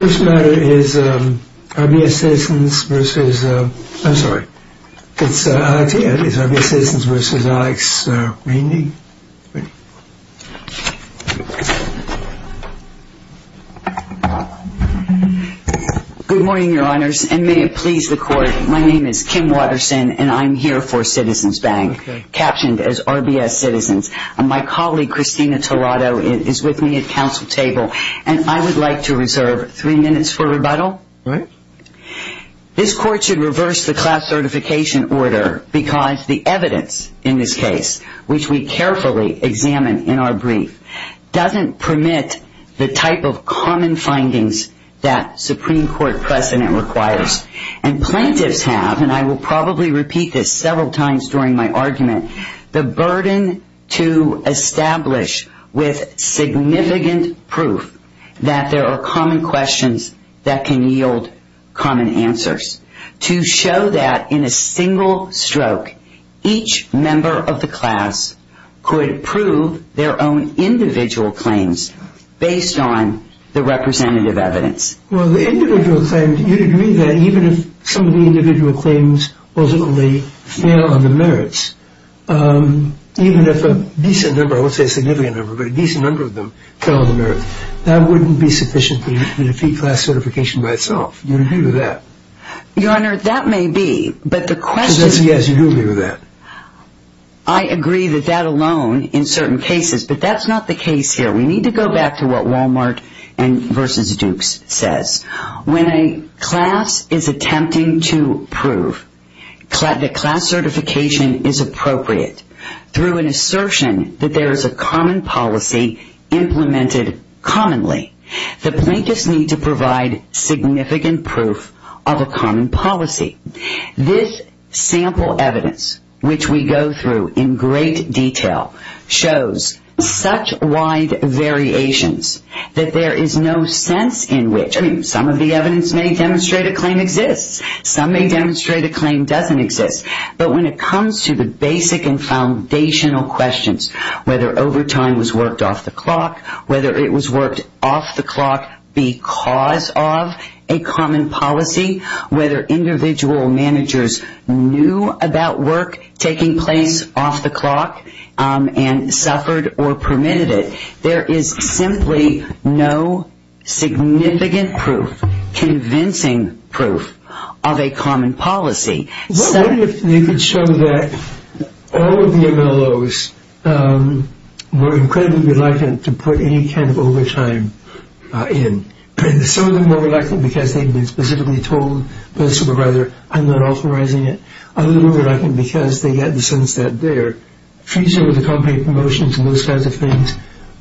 This matter is RBS Citizens versus, I'm sorry, it's RBS Citizens versus Alex Weindy. Good morning, Your Honours, and may it please the Court, my name is Kim Watterson and I'm here for Citizens Bank, captioned as RBS Citizens, and my colleague, Christina Tolado, is with me at Council Table, and I would like to reserve three minutes for rebuttal. This Court should reverse the class certification order because the evidence in this case, which we carefully examine in our brief, doesn't permit the type of common findings that Supreme Court precedent requires. And plaintiffs have, and I will probably repeat this several times during my argument, the burden to establish with significant proof that there are common questions that can yield common answers. To show that in a single stroke, each member of the class could prove their own individual claims based on the representative evidence. Well, the individual claims, you'd agree that even if some of the individual claims wasn't only fail on the merits, even if a decent number, I won't say a significant number, but a decent number of them fell on the merits, that wouldn't be sufficient to defeat class certification by itself. You'd agree with that? Your Honour, that may be, but the question... Because yes, you do agree with that. I agree that that alone, in certain cases, but that's not the case here. We need to go back to what Wal-Mart versus Dukes says. When a class is attempting to prove that class certification is appropriate, through an assertion that there is a common policy implemented commonly, the plaintiffs need to provide significant proof of a common policy. This sample evidence, which we go through in great detail, shows such wide variations that there is no sense in which... I mean, some of the evidence may demonstrate a claim exists. Some may demonstrate a claim doesn't exist. But when it comes to the basic and foundational questions, whether overtime was worked off the clock, whether it was worked off the clock because of a common policy, whether individual managers knew about work taking place off the clock and suffered or permitted it, there is simply no significant proof, convincing proof, of a common policy. What if they could show that all of the MLOs were incredibly reluctant to put any kind of overtime in? Some of them were reluctant because they had been specifically told by the supervisor, I'm not authorizing it. Others were reluctant because they had the sense that their fees over the company promotions and those kinds of things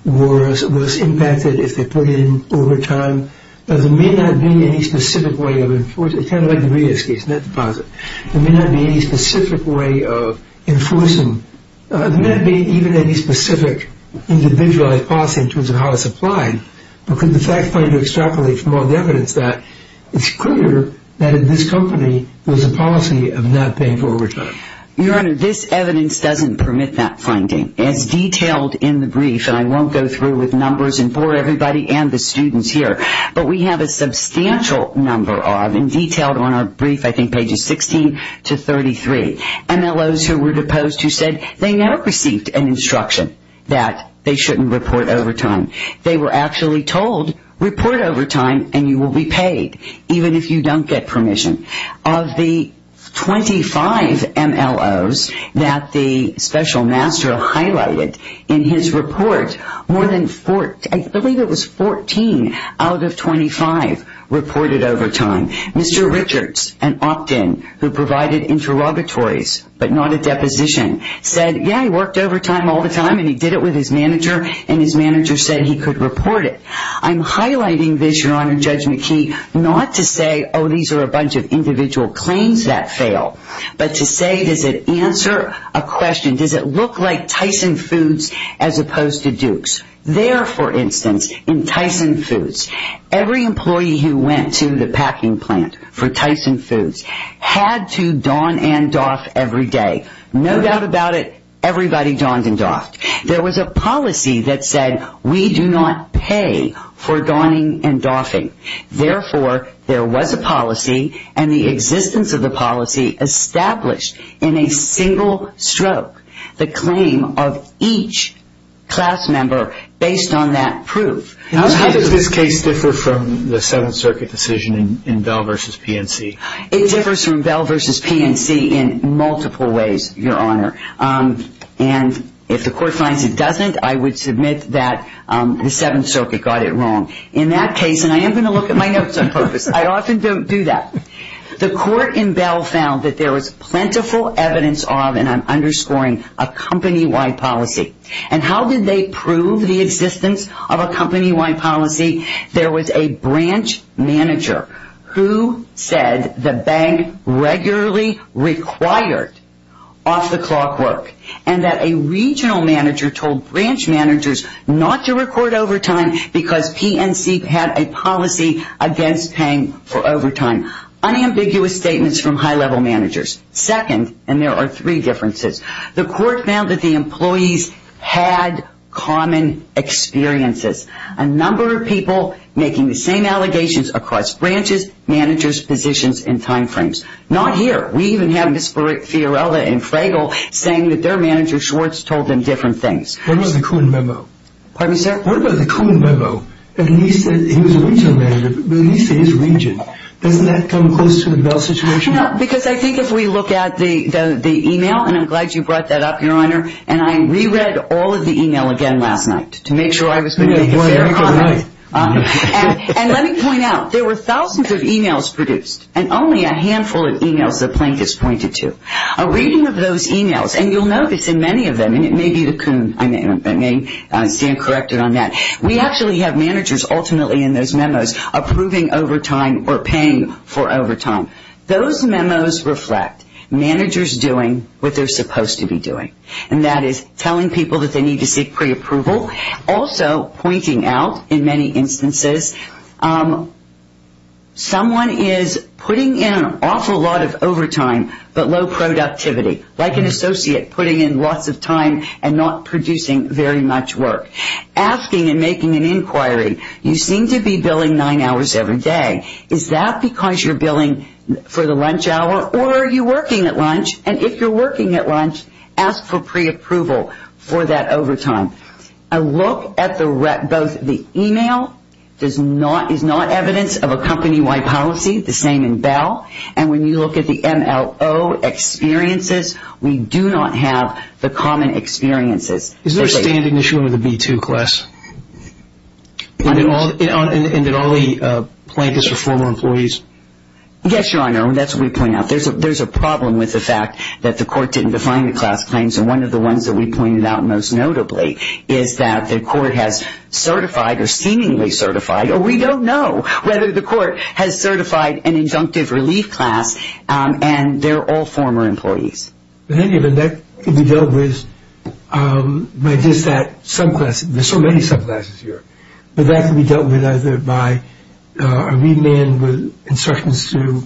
was impacted if they put in overtime. There may not be any specific way of enforcing... It's kind of like the Rios case, not the deposit. There may not be any specific way of enforcing... There may not be even any specific individualized policy in terms of how it's applied. But could the fact finder extrapolate from all the evidence that it's clear that this company was a policy of not paying for overtime? Your Honor, this evidence doesn't permit that finding. It's detailed in the brief, and I won't go through with numbers and bore everybody and the students here. But we have a substantial number of, and detailed on our brief, I think pages 16 to 33, MLOs who were deposed who said they never received an instruction that they shouldn't report overtime. They were actually told, report overtime and you will be paid even if you don't get permission. Of the 25 MLOs that the special master highlighted in his report, I believe it was 14 out of 25 reported overtime. Mr. Richards, an opt-in who provided interrogatories but not a deposition, said, yeah, he worked overtime all the time and he did it with his manager and his manager said he could report it. I'm highlighting this, Your Honor, Judge McKee, not to say, oh, these are a bunch of individual claims that fail, but to say, does it answer a question, does it look like Tyson Foods as opposed to Duke's? There, for instance, in Tyson Foods, every employee who went to the packing plant for Tyson Foods had to don and doff every day. No doubt about it, everybody donned and doffed. There was a policy that said we do not pay for donning and doffing. Therefore, there was a policy and the existence of the policy established in a single stroke the claim of each class member based on that proof. How does this case differ from the Seventh Circuit decision in Bell v. PNC? It differs from Bell v. PNC in multiple ways, Your Honor. And if the court finds it doesn't, I would submit that the Seventh Circuit got it wrong. In that case, and I am going to look at my notes on purpose, I often don't do that. The court in Bell found that there was plentiful evidence of, and I'm underscoring, a company-wide policy. And how did they prove the existence of a company-wide policy? There was a branch manager who said the bank regularly required off-the-clock work. And that a regional manager told branch managers not to record overtime because PNC had a policy against paying for overtime. Unambiguous statements from high-level managers. Second, and there are three differences, the court found that the employees had common experiences. A number of people making the same allegations across branches, managers, positions, and time frames. Not here. We even have Ms. Fiorella and Fragel saying that their manager, Schwartz, told them different things. What about the common memo? Pardon me, sir? What about the common memo that he said he was a regional manager, but he said he was a region? Doesn't that come close to the Bell situation? No, because I think if we look at the email, and I'm glad you brought that up, Your Honor, and I reread all of the email again last night to make sure I was going to make a fair comment. And let me point out, there were thousands of emails produced, and only a handful of emails that Plank has pointed to. A reading of those emails, and you'll notice in many of them, and it may be the Coon, I may stand corrected on that, we actually have managers ultimately in those memos approving overtime or paying for overtime. Those memos reflect managers doing what they're supposed to be doing, and that is telling people that they need to seek preapproval. Also, pointing out in many instances, someone is putting in an awful lot of overtime but low productivity, like an associate putting in lots of time and not producing very much work. Asking and making an inquiry, you seem to be billing nine hours every day. Is that because you're billing for the lunch hour, or are you working at lunch? And if you're working at lunch, ask for preapproval for that overtime. A look at both the email is not evidence of a company-wide policy, the same in Bell, and when you look at the MLO experiences, we do not have the common experiences. Is there a standing issue under the B-2 class? And did all the plaintiffs are former employees? Yes, Your Honor, and that's what we point out. There's a problem with the fact that the court didn't define the class claims, and one of the ones that we pointed out most notably is that the court has certified, or seemingly certified, or we don't know whether the court has certified an injunctive relief class, and they're all former employees. But then again, that could be dealt with by just that subclass. There's so many subclasses here, but that could be dealt with either by a remand with instructions to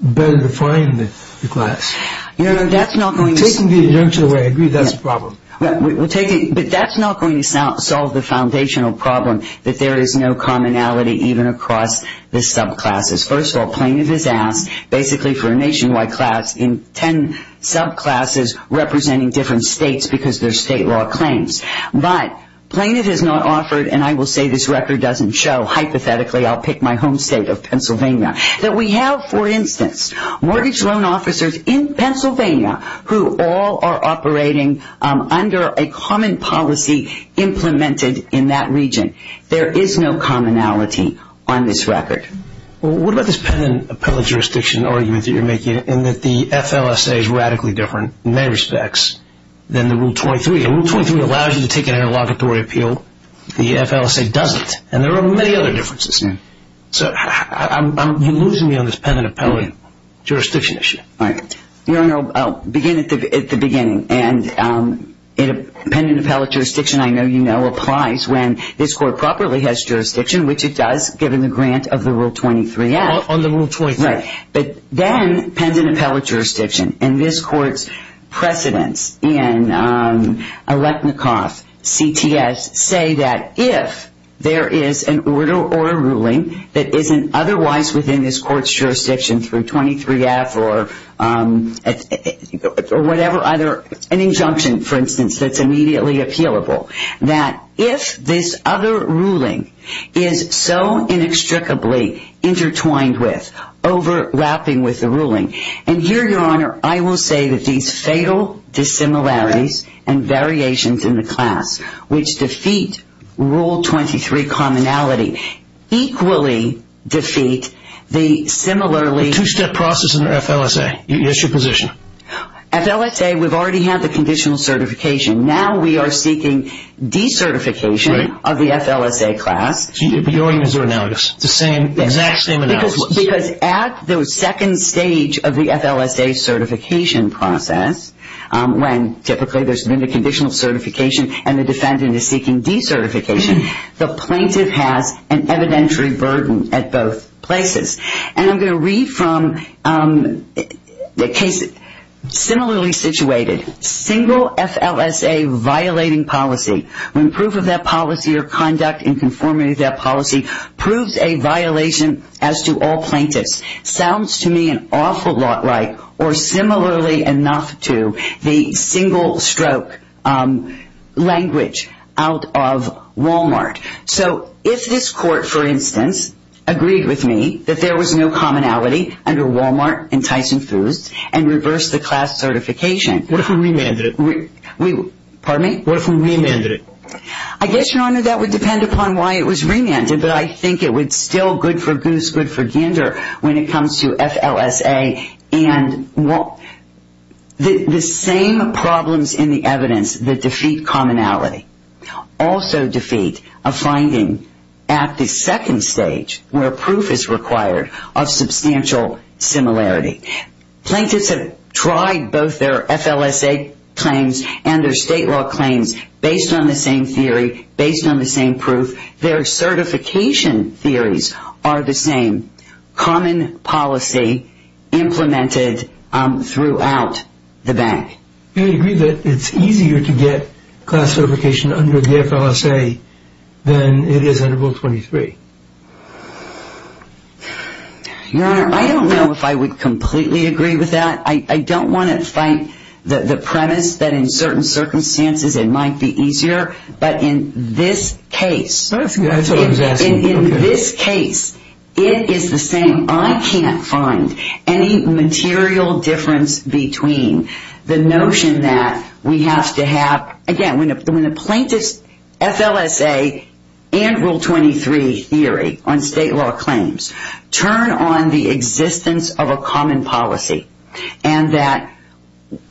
better define the class. Your Honor, that's not going to... Taking the injunction away, I agree that's a problem. But that's not going to solve the foundational problem that there is no commonality even across the subclasses. First of all, plaintiff is asked basically for a nationwide class in ten subclasses representing different states because they're state law claims. But plaintiff is not offered, and I will say this record doesn't show, hypothetically I'll pick my home state of Pennsylvania, that we have, for instance, mortgage loan officers in Pennsylvania who all are operating under a common policy implemented in that region. There is no commonality on this record. Well, what about this pen and appellate jurisdiction argument that you're making in that the FLSA is radically different in many respects than the Rule 23? Rule 23 allows you to take an interlocutory appeal. The FLSA doesn't, and there are many other differences. So you're losing me on this pen and appellate jurisdiction issue. Your Honor, I'll begin at the beginning. Pen and appellate jurisdiction, I know you know, applies when this court properly has jurisdiction, which it does given the grant of the Rule 23 Act. On the Rule 23. Right, but then pen and appellate jurisdiction, and this court's precedents in Electnikoff, CTS, say that if there is an order or a ruling that isn't otherwise within this court's jurisdiction through 23-F or whatever, either an injunction, for instance, that's immediately appealable, that if this other ruling is so inextricably intertwined with, overlapping with the ruling, and here, Your Honor, I will say that these fatal dissimilarities and variations in the class which defeat Rule 23 commonality equally defeat the similarly... The two-step process under FLSA. What's your position? FLSA, we've already had the conditional certification. Now we are seeking decertification of the FLSA class. Your answer now is the exact same analysis. Because at the second stage of the FLSA certification process, when typically there's been a conditional certification and the defendant is seeking decertification, the plaintiff has an evidentiary burden at both places. And I'm going to read from a case similarly situated. Single FLSA violating policy, when proof of that policy or conduct in conformity with that policy proves a violation as to all plaintiffs, sounds to me an awful lot like or similarly enough to the single-stroke language out of Walmart. So if this court, for instance, agreed with me that there was no commonality under Walmart and Tyson Foods and reversed the class certification... What if we remanded it? Pardon me? What if we remanded it? I guess, Your Honor, that would depend upon why it was remanded. But I think it would still good for goose, good for gander when it comes to FLSA. And the same problems in the evidence that defeat commonality also defeat a finding at the second stage where proof is required of substantial similarity. Plaintiffs have tried both their FLSA claims and their state law claims based on the same theory, based on the same proof. Their certification theories are the same. Common policy implemented throughout the bank. Do you agree that it's easier to get class certification under the FLSA than it is under Rule 23? Your Honor, I don't know if I would completely agree with that. I don't want to fight the premise that in certain circumstances it might be easier. But in this case, it is the same. I can't find any material difference between the notion that we have to have... Again, when a plaintiff's FLSA and Rule 23 theory on state law claims turn on the existence of a common policy and that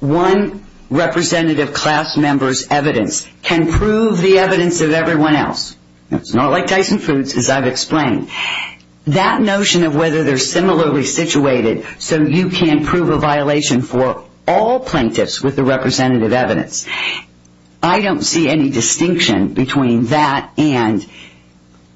one representative class member's evidence can prove the evidence of everyone else. It's not like Dyson Foods, as I've explained. That notion of whether they're similarly situated so you can prove a violation for all plaintiffs with the representative evidence, I don't see any distinction between that and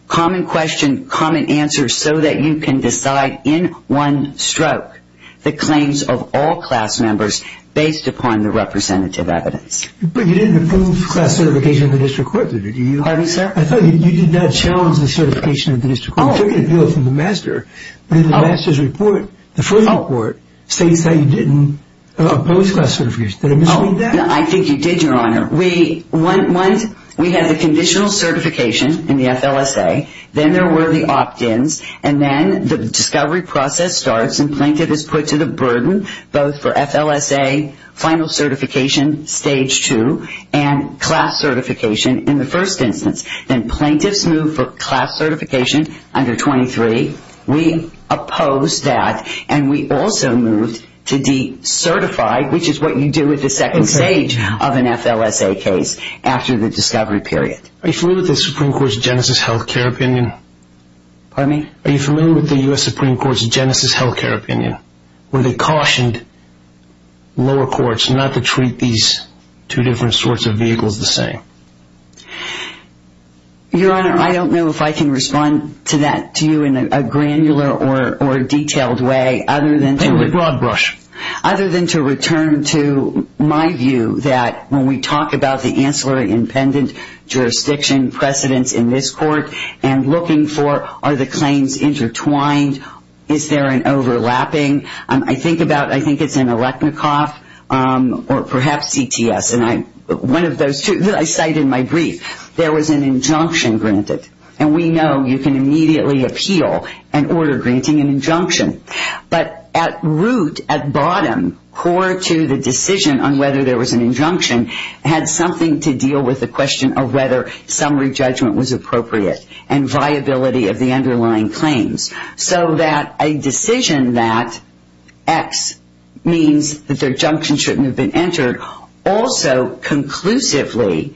common question, common answer, so that you can decide in one stroke the claims of all class members based upon the representative evidence. But you didn't approve class certification of the district court, did you? Pardon me, sir? I thought you did not challenge the certification of the district court. You took a deal from the master. But in the master's report, the first report, states that you didn't oppose class certification. Did I misread that? I think you did, Your Honor. Once we had the conditional certification in the FLSA, then there were the opt-ins, and then the discovery process starts and the plaintiff is put to the burden both for FLSA, final certification, Stage 2, and class certification in the first instance. Then plaintiffs move for class certification under 23. We opposed that, and we also moved to decertify, which is what you do at the second stage of an FLSA case after the discovery period. Are you familiar with the Supreme Court's Genesis Health Care opinion? Pardon me? Are you familiar with the U.S. Supreme Court's Genesis Health Care opinion, where they cautioned lower courts not to treat these two different sorts of vehicles the same? Your Honor, I don't know if I can respond to that to you in a granular or detailed way, other than to... In a broad brush. ...other than to return to my view that when we talk about the ancillary and pendent jurisdiction precedents in this court and looking for, are the claims intertwined, is there an overlapping? I think about, I think it's an electnicoff or perhaps CTS, and one of those two that I cite in my brief. There was an injunction granted, and we know you can immediately appeal and order granting an injunction. But at root, at bottom, core to the decision on whether there was an injunction had something to deal with the question of whether summary judgment was appropriate and viability of the underlying claims. So that a decision that X means that their injunction shouldn't have been entered also conclusively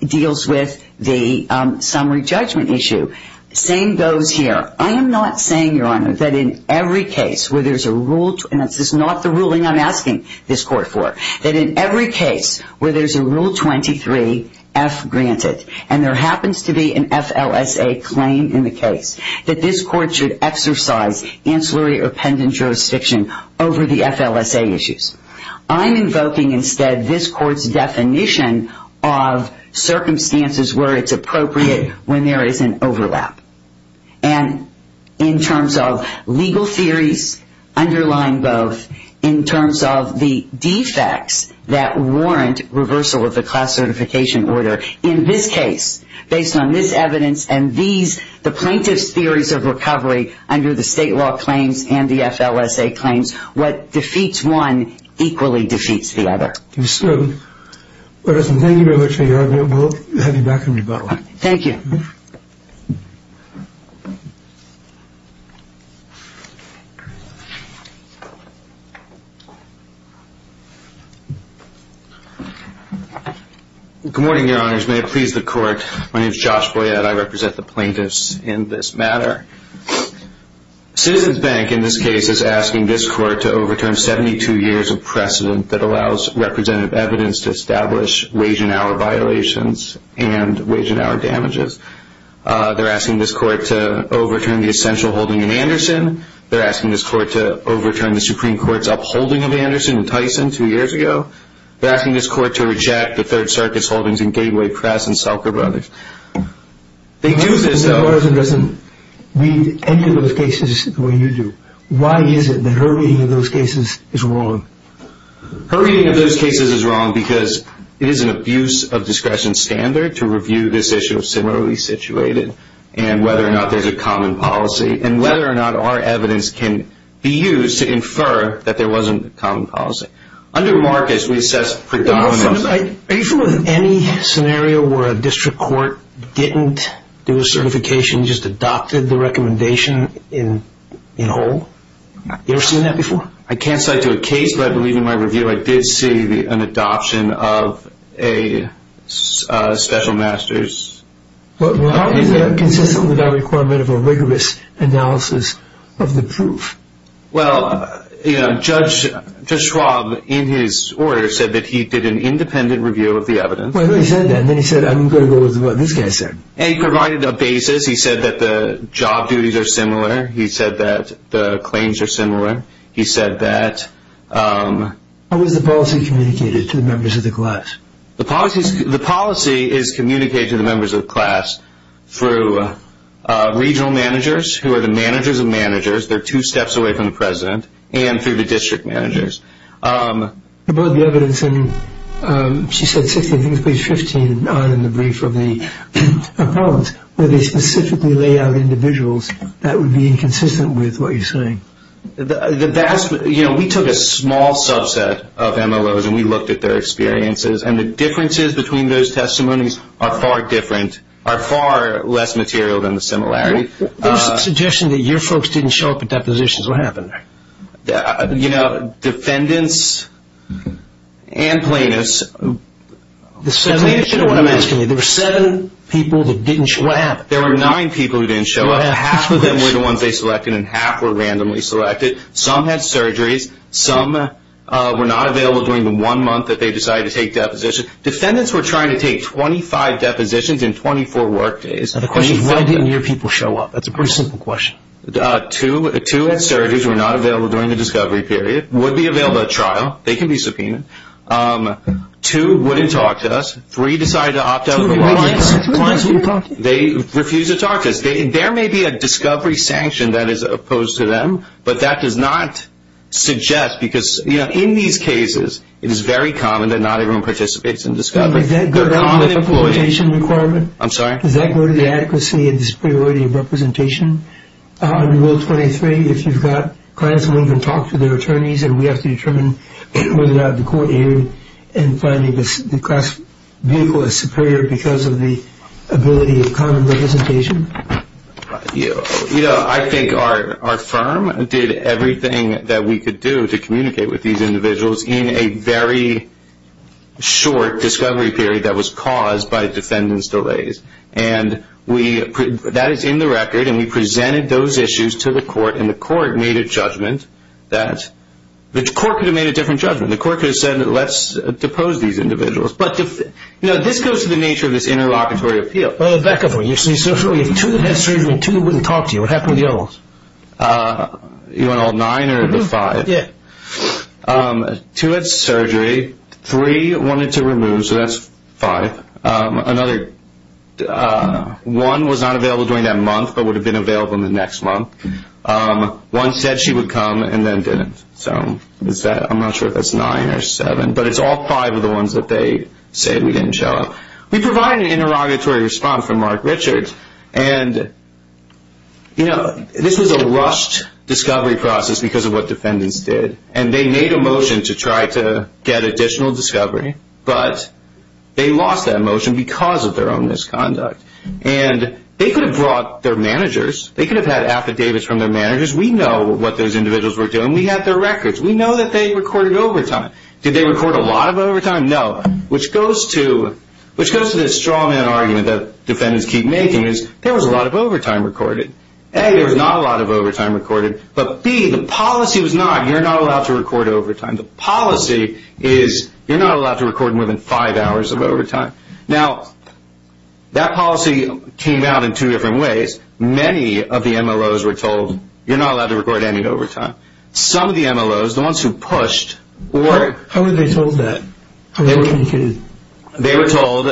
deals with the summary judgment issue. Same goes here. I am not saying, Your Honor, that in every case where there's a rule, and this is not the ruling I'm asking this court for, that in every case where there's a rule 23F granted, and there happens to be an FLSA claim in the case, that this court should exercise ancillary or pendent jurisdiction over the FLSA issues. I'm invoking instead this court's definition of circumstances where it's appropriate when there is an overlap. And in terms of legal theories underlying both, in terms of the defects that warrant reversal of the class certification order, in this case, based on this evidence and these, the plaintiff's theories of recovery under the state law claims and the FLSA claims, what defeats one equally defeats the other. Thank you very much, Your Honor. We'll have you back in rebuttal. Thank you. Thank you. Good morning, Your Honors. May it please the court, my name is Josh Boyad. I represent the plaintiffs in this matter. Citizens Bank, in this case, is asking this court to overturn 72 years of precedent that allows representative evidence to establish wage and hour violations and wage and hour damages. They're asking this court to overturn the essential holding in Anderson. They're asking this court to overturn the Supreme Court's upholding of Anderson and Tyson two years ago. They're asking this court to reject the Third Circuit's holdings in Gateway Press and Stalker Brothers. They do this, though. Ms. Morrison doesn't read any of those cases the way you do. Why is it that her reading of those cases is wrong? Her reading of those cases is wrong because it is an abuse of discretion standard to review this issue of similarly situated and whether or not there's a common policy and whether or not our evidence can be used to infer that there wasn't a common policy. Under Marcus, we assess predominance. Are you familiar with any scenario where a district court didn't do a certification, just adopted the recommendation in whole? You ever seen that before? I can't cite to a case, but I believe in my review I did see an adoption of a special master's. How is that consistent with our requirement of a rigorous analysis of the proof? Well, Judge Schwab, in his order, said that he did an independent review of the evidence. Well, he said that, and then he said, I'm going to go with what this guy said. And he provided a basis. He said that the job duties are similar. He said that the claims are similar. He said that... How is the policy communicated to the members of the class? The policy is communicated to the members of the class through regional managers, who are the managers of managers. They're two steps away from the president, and through the district managers. About the evidence in, she said 16, I think it was page 15 in the brief from the appellants, where they specifically lay out individuals that would be inconsistent with what you're saying. You know, we took a small subset of MLOs, and we looked at their experiences, and the differences between those testimonies are far different, are far less material than the similarity. There's a suggestion that your folks didn't show up at depositions. What happened there? You know, defendants and plaintiffs... There were seven people that didn't show up. What happened? There were nine people who didn't show up. Half of them were the ones they selected, and half were randomly selected. Some had surgeries. Some were not available during the one month that they decided to take depositions. Defendants were trying to take 25 depositions in 24 work days. The question is, why didn't your people show up? That's a pretty simple question. Two had surgeries, were not available during the discovery period, would be available at trial. They can be subpoenaed. Two wouldn't talk to us. Three decided to opt out. Two clients wouldn't talk to you? They refused to talk to us. There may be a discovery sanction that is opposed to them, but that does not suggest because, you know, in these cases, it is very common that not everyone participates in discovery. Does that go to the adequacy and superiority of representation? In Rule 23, if you've got clients who won't even talk to their attorneys and we have to determine whether or not the court aided in finding the class vehicle as superior because of the ability of common representation? You know, I think our firm did everything that we could do to communicate with these individuals in a very short discovery period that was caused by defendants' delays. And that is in the record, and we presented those issues to the court, and the court made a judgment that the court could have made a different judgment. The court could have said, let's depose these individuals. But, you know, this goes to the nature of this interlocutory appeal. Well, Rebecca, if two had surgery and two wouldn't talk to you, what happened to the others? You want all nine or the five? Yeah. Two had surgery. Three wanted to remove, so that's five. One was not available during that month but would have been available in the next month. One said she would come and then didn't. I'm not sure if that's nine or seven, but it's all five of the ones that they said we didn't show up. We provided an interrogatory response from Mark Richards, and, you know, this was a rushed discovery process because of what defendants did. And they made a motion to try to get additional discovery, but they lost that motion because of their own misconduct. And they could have brought their managers. They could have had affidavits from their managers. We know what those individuals were doing. We have their records. We know that they recorded overtime. Did they record a lot of overtime? No. Which goes to this strawman argument that defendants keep making is there was a lot of overtime recorded. A, there was not a lot of overtime recorded. But, B, the policy was not you're not allowed to record overtime. The policy is you're not allowed to record more than five hours of overtime. Now, that policy came out in two different ways. Many of the MLOs were told you're not allowed to record any overtime. Some of the MLOs, the ones who pushed, were. How were they told that? They were told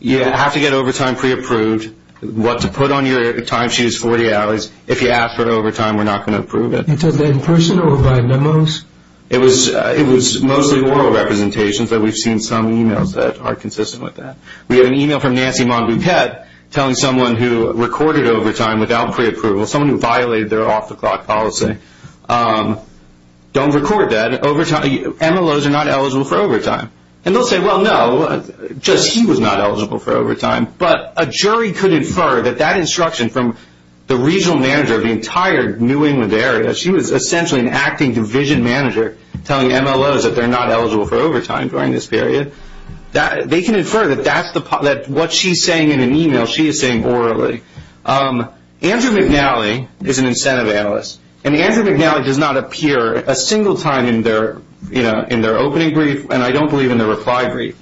you have to get overtime pre-approved. What to put on your time sheet is 40 hours. If you ask for overtime, we're not going to approve it. You took that in person or via memos? It was mostly oral representations, but we've seen some e-mails that are consistent with that. We have an e-mail from Nancy Mon-Bupette telling someone who recorded overtime without pre-approval, someone who violated their off-the-clock policy, don't record that. MLOs are not eligible for overtime. And they'll say, well, no, just he was not eligible for overtime. But a jury could infer that that instruction from the regional manager of the entire New England area, she was essentially an acting division manager telling MLOs that they're not eligible for overtime during this period. They can infer that what she's saying in an e-mail, she is saying orally. Andrew McNally is an incentive analyst. And Andrew McNally does not appear a single time in their opening brief, and I don't believe in their reply brief.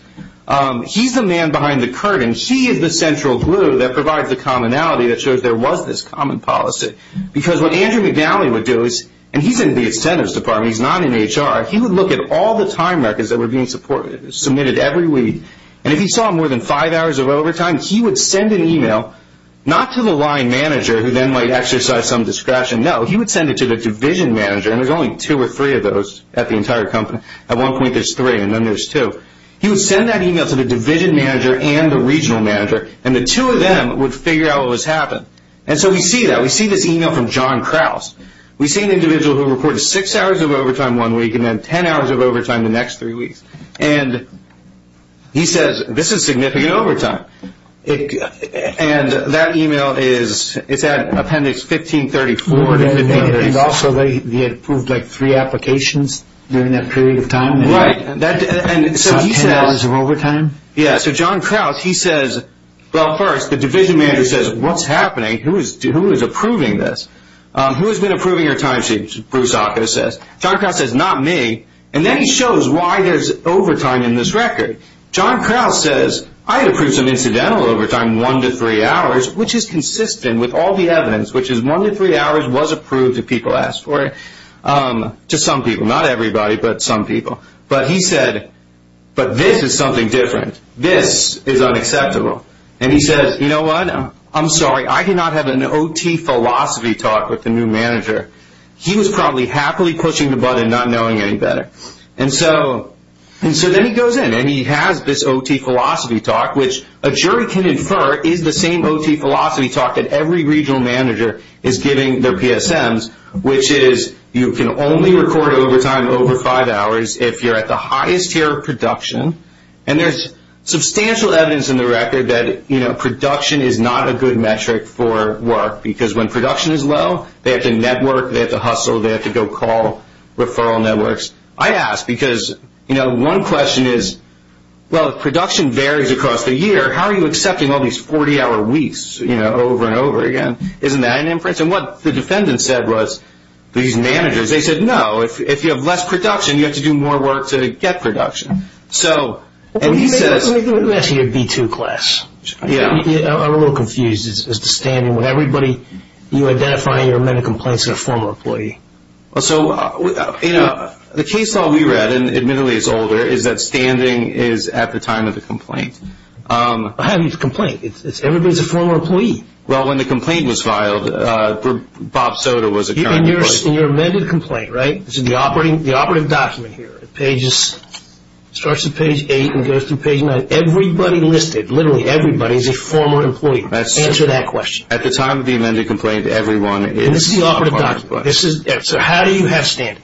He's the man behind the curtain. She is the central glue that provides the commonality that shows there was this common policy. Because what Andrew McNally would do is, and he's in the incentives department, he's not in HR, he would look at all the time records that were being submitted every week. And if he saw more than five hours of overtime, he would send an e-mail not to the line manager, who then might exercise some discretion. No, he would send it to the division manager. And there's only two or three of those at the entire company. At one point there's three, and then there's two. He would send that e-mail to the division manager and the regional manager, and the two of them would figure out what was happening. And so we see that. We see this e-mail from John Krause. We see an individual who reported six hours of overtime one week and then ten hours of overtime the next three weeks. And he says, this is significant overtime. And that e-mail is at appendix 1534. And also they had approved like three applications during that period of time. Right. So ten hours of overtime? Yeah. So John Krause, he says, well, first, the division manager says, what's happening? Who is approving this? Who has been approving your time sheet? Bruce Occo says. John Krause says, not me. And then he shows why there's overtime in this record. John Krause says, I had approved some incidental overtime one to three hours, which is consistent with all the evidence, which is one to three hours was approved if people asked for it to some people. Not everybody, but some people. But he said, but this is something different. This is unacceptable. And he says, you know what? I'm sorry. I did not have an OT philosophy talk with the new manager. He was probably happily pushing the button not knowing any better. And so then he goes in, and he has this OT philosophy talk, which a jury can infer is the same OT philosophy talk that every regional manager is giving their PSMs, which is you can only record overtime over five hours if you're at the highest tier of production. And there's substantial evidence in the record that, you know, production is not a good metric for work because when production is low, they have to network, they have to hustle, they have to go call referral networks. I ask because, you know, one question is, well, if production varies across the year, how are you accepting all these 40-hour weeks, you know, over and over again? Isn't that an inference? And what the defendant said was, these managers, they said, no. If you have less production, you have to do more work to get production. So, and he says. Let me ask you a B2 class. Yeah. I'm a little confused as to standing with everybody. You identify your amended complaints as a former employee. So, you know, the case all we read, and admittedly it's older, is that standing is at the time of the complaint. How do you complain? Everybody's a former employee. Well, when the complaint was filed, Bob Soder was a current employee. In your amended complaint, right, this is the operative document here. It starts at page 8 and goes through page 9. Everybody listed, literally everybody is a former employee. Answer that question. At the time of the amended complaint, everyone is a former employee. And this is the operative document. So, how do you have standing?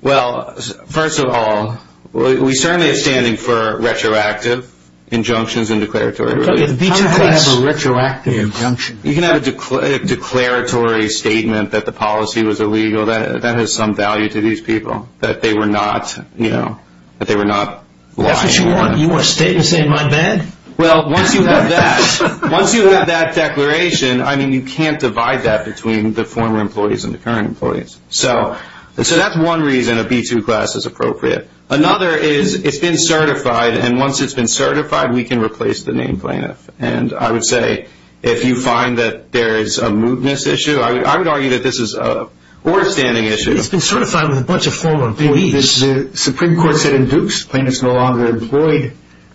Well, first of all, we certainly have standing for retroactive injunctions and declaratory relief. How do you have a retroactive injunction? You can have a declaratory statement that the policy was illegal. That has some value to these people, that they were not lying. That's what you want? You want a statement saying, my bad? Well, once you have that declaration, I mean, you can't divide that between the former employees and the current employees. So that's one reason a B2 class is appropriate. Another is it's been certified, and once it's been certified, we can replace the named plaintiff. And I would say, if you find that there is a mootness issue, I would argue that this is an order-standing issue. It's been certified with a bunch of former employees. The Supreme Court said in Dukes, plaintiffs no longer employed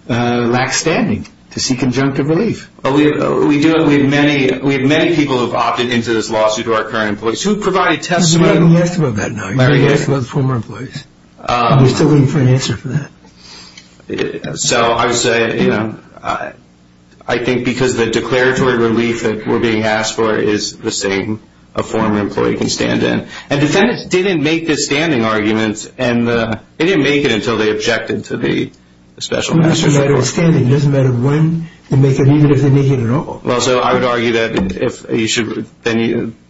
lack standing to seek conjunctive relief. We have many people who have opted into this lawsuit who are current employees who have provided testimony. You haven't asked about that now. You haven't asked about the former employees. You're still waiting for an answer for that. So I would say, you know, I think because the declaratory relief that we're being asked for is the same a former employee can stand in. And defendants didn't make this standing argument, and they didn't make it until they objected to the special master's report. It doesn't matter when they make it, even if they make it at all. Well, so I would argue that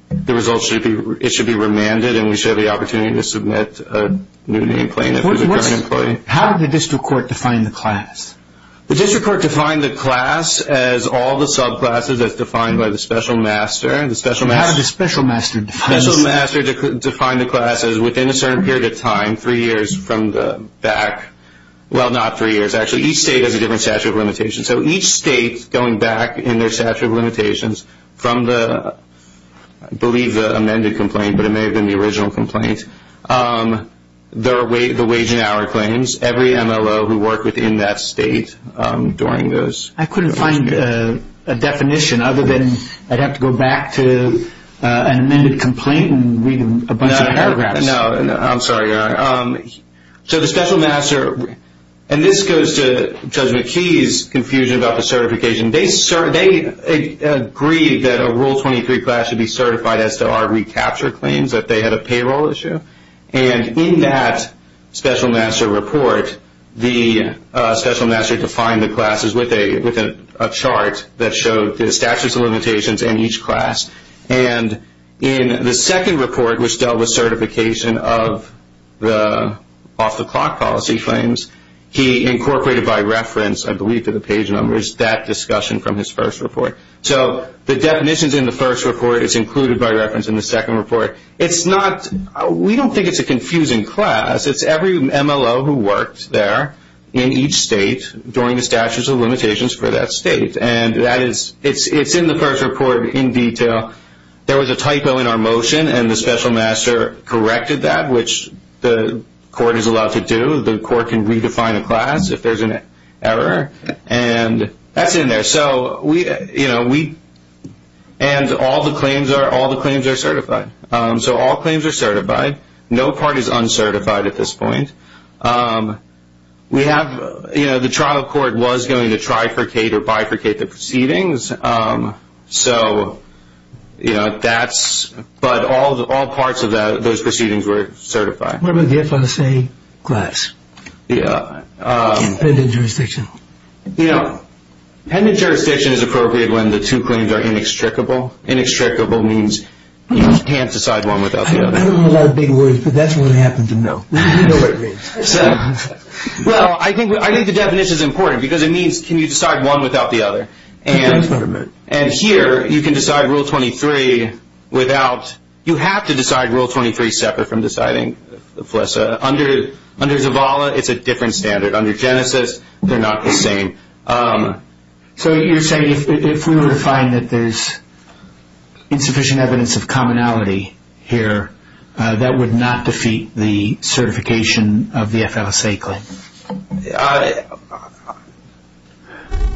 the results should be remanded, and we should have the opportunity to submit a new named plaintiff who's a current employee. How did the district court define the class? The district court defined the class as all the subclasses as defined by the special master. How did the special master define the class? The special master defined the class as within a certain period of time, three years from the back. Well, not three years. Actually, each state has a different statute of limitations. So each state, going back in their statute of limitations from the, I believe, the amended complaint, but it may have been the original complaint, the wage and hour claims, every MLO who worked within that state during those periods. I couldn't find a definition other than I'd have to go back to an amended complaint and read a bunch of paragraphs. No, I'm sorry. So the special master, and this goes to Judge McKee's confusion about the certification. They agreed that a Rule 23 class should be certified as to our recapture claims, that they had a payroll issue, and in that special master report, the special master defined the classes with a chart that showed the statutes of limitations in each class. And in the second report, which dealt with certification of the off-the-clock policy claims, he incorporated by reference, I believe, to the page numbers that discussion from his first report. So the definitions in the first report is included by reference in the second report. It's not, we don't think it's a confusing class. It's every MLO who worked there in each state during the statutes of limitations for that state. And that is, it's in the first report in detail. There was a typo in our motion, and the special master corrected that, which the court is allowed to do. The court can redefine a class if there's an error, and that's in there. So we, you know, we, and all the claims are certified. So all claims are certified. No part is uncertified at this point. We have, you know, the trial court was going to trifurcate or bifurcate the proceedings. So, you know, that's, but all parts of those proceedings were certified. What about the FSA class? Yeah. In pendant jurisdiction. You know, pendant jurisdiction is appropriate when the two claims are inextricable. Inextricable means you can't decide one without the other. I don't know a lot of big words, but that's what I happen to know. You know what it means. Well, I think the definition is important because it means can you decide one without the other. And here you can decide Rule 23 without, you have to decide Rule 23 separate from deciding FLSA. Under Zavala, it's a different standard. Under Genesis, they're not the same. So you're saying if we were to find that there's insufficient evidence of commonality here, that would not defeat the certification of the FSA claim?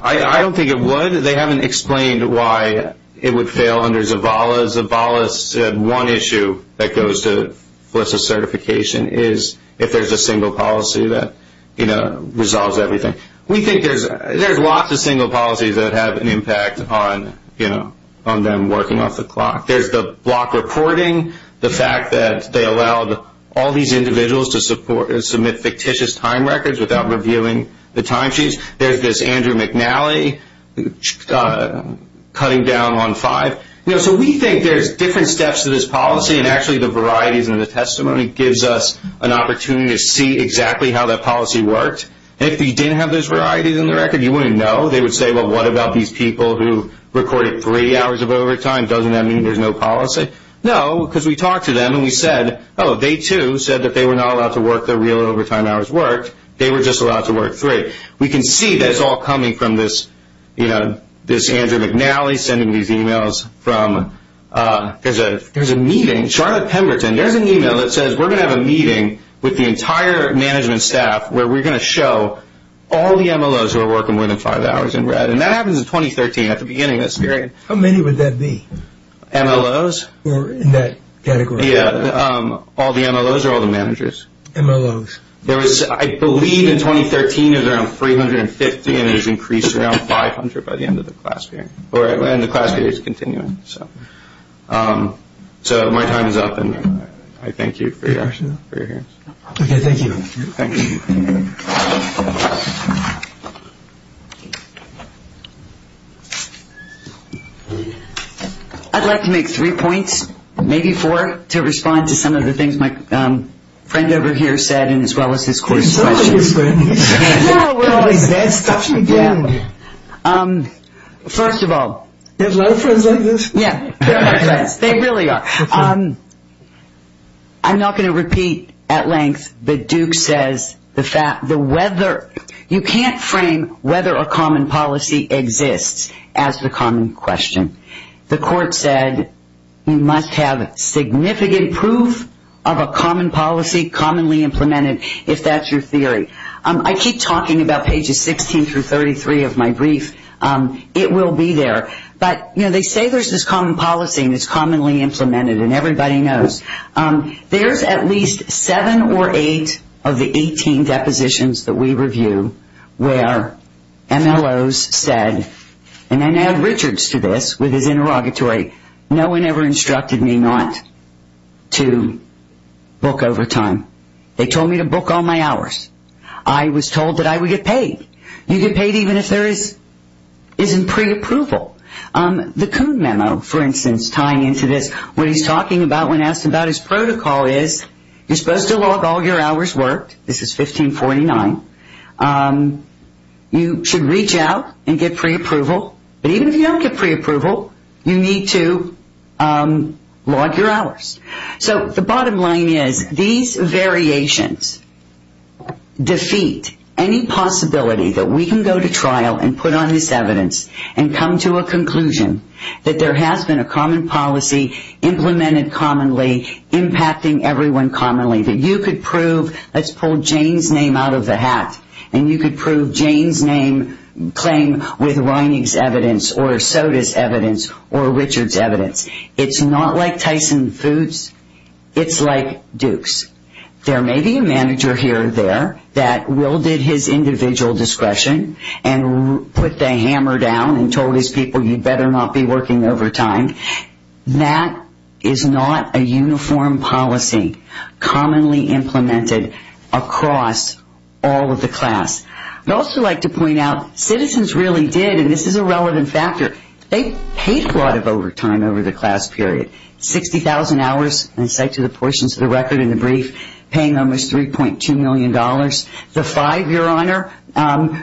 I don't think it would. They haven't explained why it would fail under Zavala. Zavala said one issue that goes to FLSA certification is if there's a single policy that, you know, resolves everything. We think there's lots of single policies that have an impact on, you know, on them working off the clock. There's the block reporting, the fact that they allowed all these individuals to submit fictitious time records without reviewing the timesheets. There's this Andrew McNally cutting down on five. You know, so we think there's different steps to this policy, and actually the varieties in the testimony gives us an opportunity to see exactly how that policy worked. If you didn't have those varieties in the record, you wouldn't know. They would say, well, what about these people who recorded three hours of overtime? Doesn't that mean there's no policy? No, because we talked to them and we said, oh, they too said that they were not allowed to work their real overtime hours worked. They were just allowed to work three. We can see that it's all coming from this, you know, this Andrew McNally sending these emails from – there's a meeting. Charlotte Pemberton, there's an email that says we're going to have a meeting with the entire management staff where we're going to show all the MLOs who are working more than five hours in red, and that happens in 2013 at the beginning of this period. How many would that be? MLOs? In that category. Yeah, all the MLOs or all the managers. MLOs. There was – I believe in 2013 it was around 350, and it has increased around 500 by the end of the class period. And the class period is continuing. So my time is up, and I thank you for your hearings. Okay, thank you. Thank you. I'd like to make three points, maybe four, to respond to some of the things my friend over here said and as well as this court's questions. First of all – You have a lot of friends like this? Yeah, they really are. I'm not going to repeat at length, but Duke says the weather – you can't frame whether a common policy exists as the common question. The court said you must have significant proof of a common policy, commonly implemented, if that's your theory. I keep talking about pages 16 through 33 of my brief. It will be there. But, you know, they say there's this common policy, and it's commonly implemented, and everybody knows. There's at least seven or eight of the 18 depositions that we review where MLOs said – and then add Richards to this with his interrogatory – no one ever instructed me not to book overtime. They told me to book all my hours. I was told that I would get paid. You get paid even if there isn't pre-approval. The Coon Memo, for instance, tying into this, what he's talking about when asked about his protocol is you're supposed to log all your hours worked. This is 1549. You should reach out and get pre-approval. But even if you don't get pre-approval, you need to log your hours. So the bottom line is these variations defeat any possibility that we can go to trial and put on this evidence and come to a conclusion that there has been a common policy, implemented commonly, impacting everyone commonly, that you could prove – let's pull Jane's name out of the hat – and you could prove Jane's claim with Reining's evidence or Soda's evidence or Richards' evidence. It's not like Tyson Foods. It's like Duke's. There may be a manager here or there that wielded his individual discretion and put the hammer down and told his people you'd better not be working overtime. That is not a uniform policy commonly implemented across all of the class. I'd also like to point out citizens really did, and this is a relevant factor, they paid a lot of overtime over the class period. 60,000 hours, in sight to the portions of the record in the brief, paying almost $3.2 million. The five, Your Honor,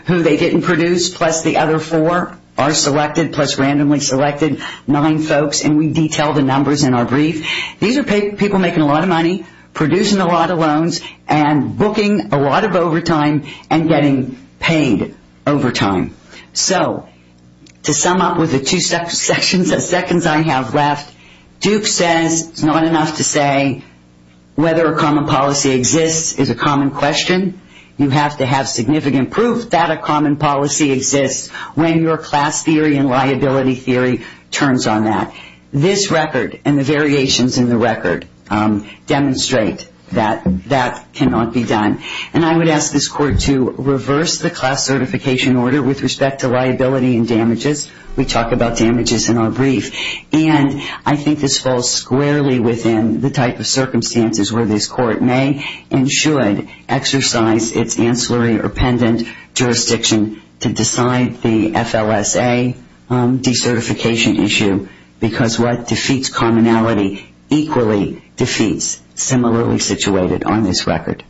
who they didn't produce, plus the other four, are selected, plus randomly selected. Nine folks, and we detail the numbers in our brief. These are people making a lot of money, producing a lot of loans, and booking a lot of overtime and getting paid overtime. So to sum up with the two sections of seconds I have left, Duke says it's not enough to say whether a common policy exists is a common question. You have to have significant proof that a common policy exists when your class theory and liability theory turns on that. This record and the variations in the record demonstrate that that cannot be done. And I would ask this Court to reverse the class certification order with respect to liability and damages. We talk about damages in our brief. And I think this falls squarely within the type of circumstances where this Court may and should exercise its ancillary or pendant jurisdiction to decide the FLSA decertification issue, because what defeats commonality equally defeats similarly situated on this record.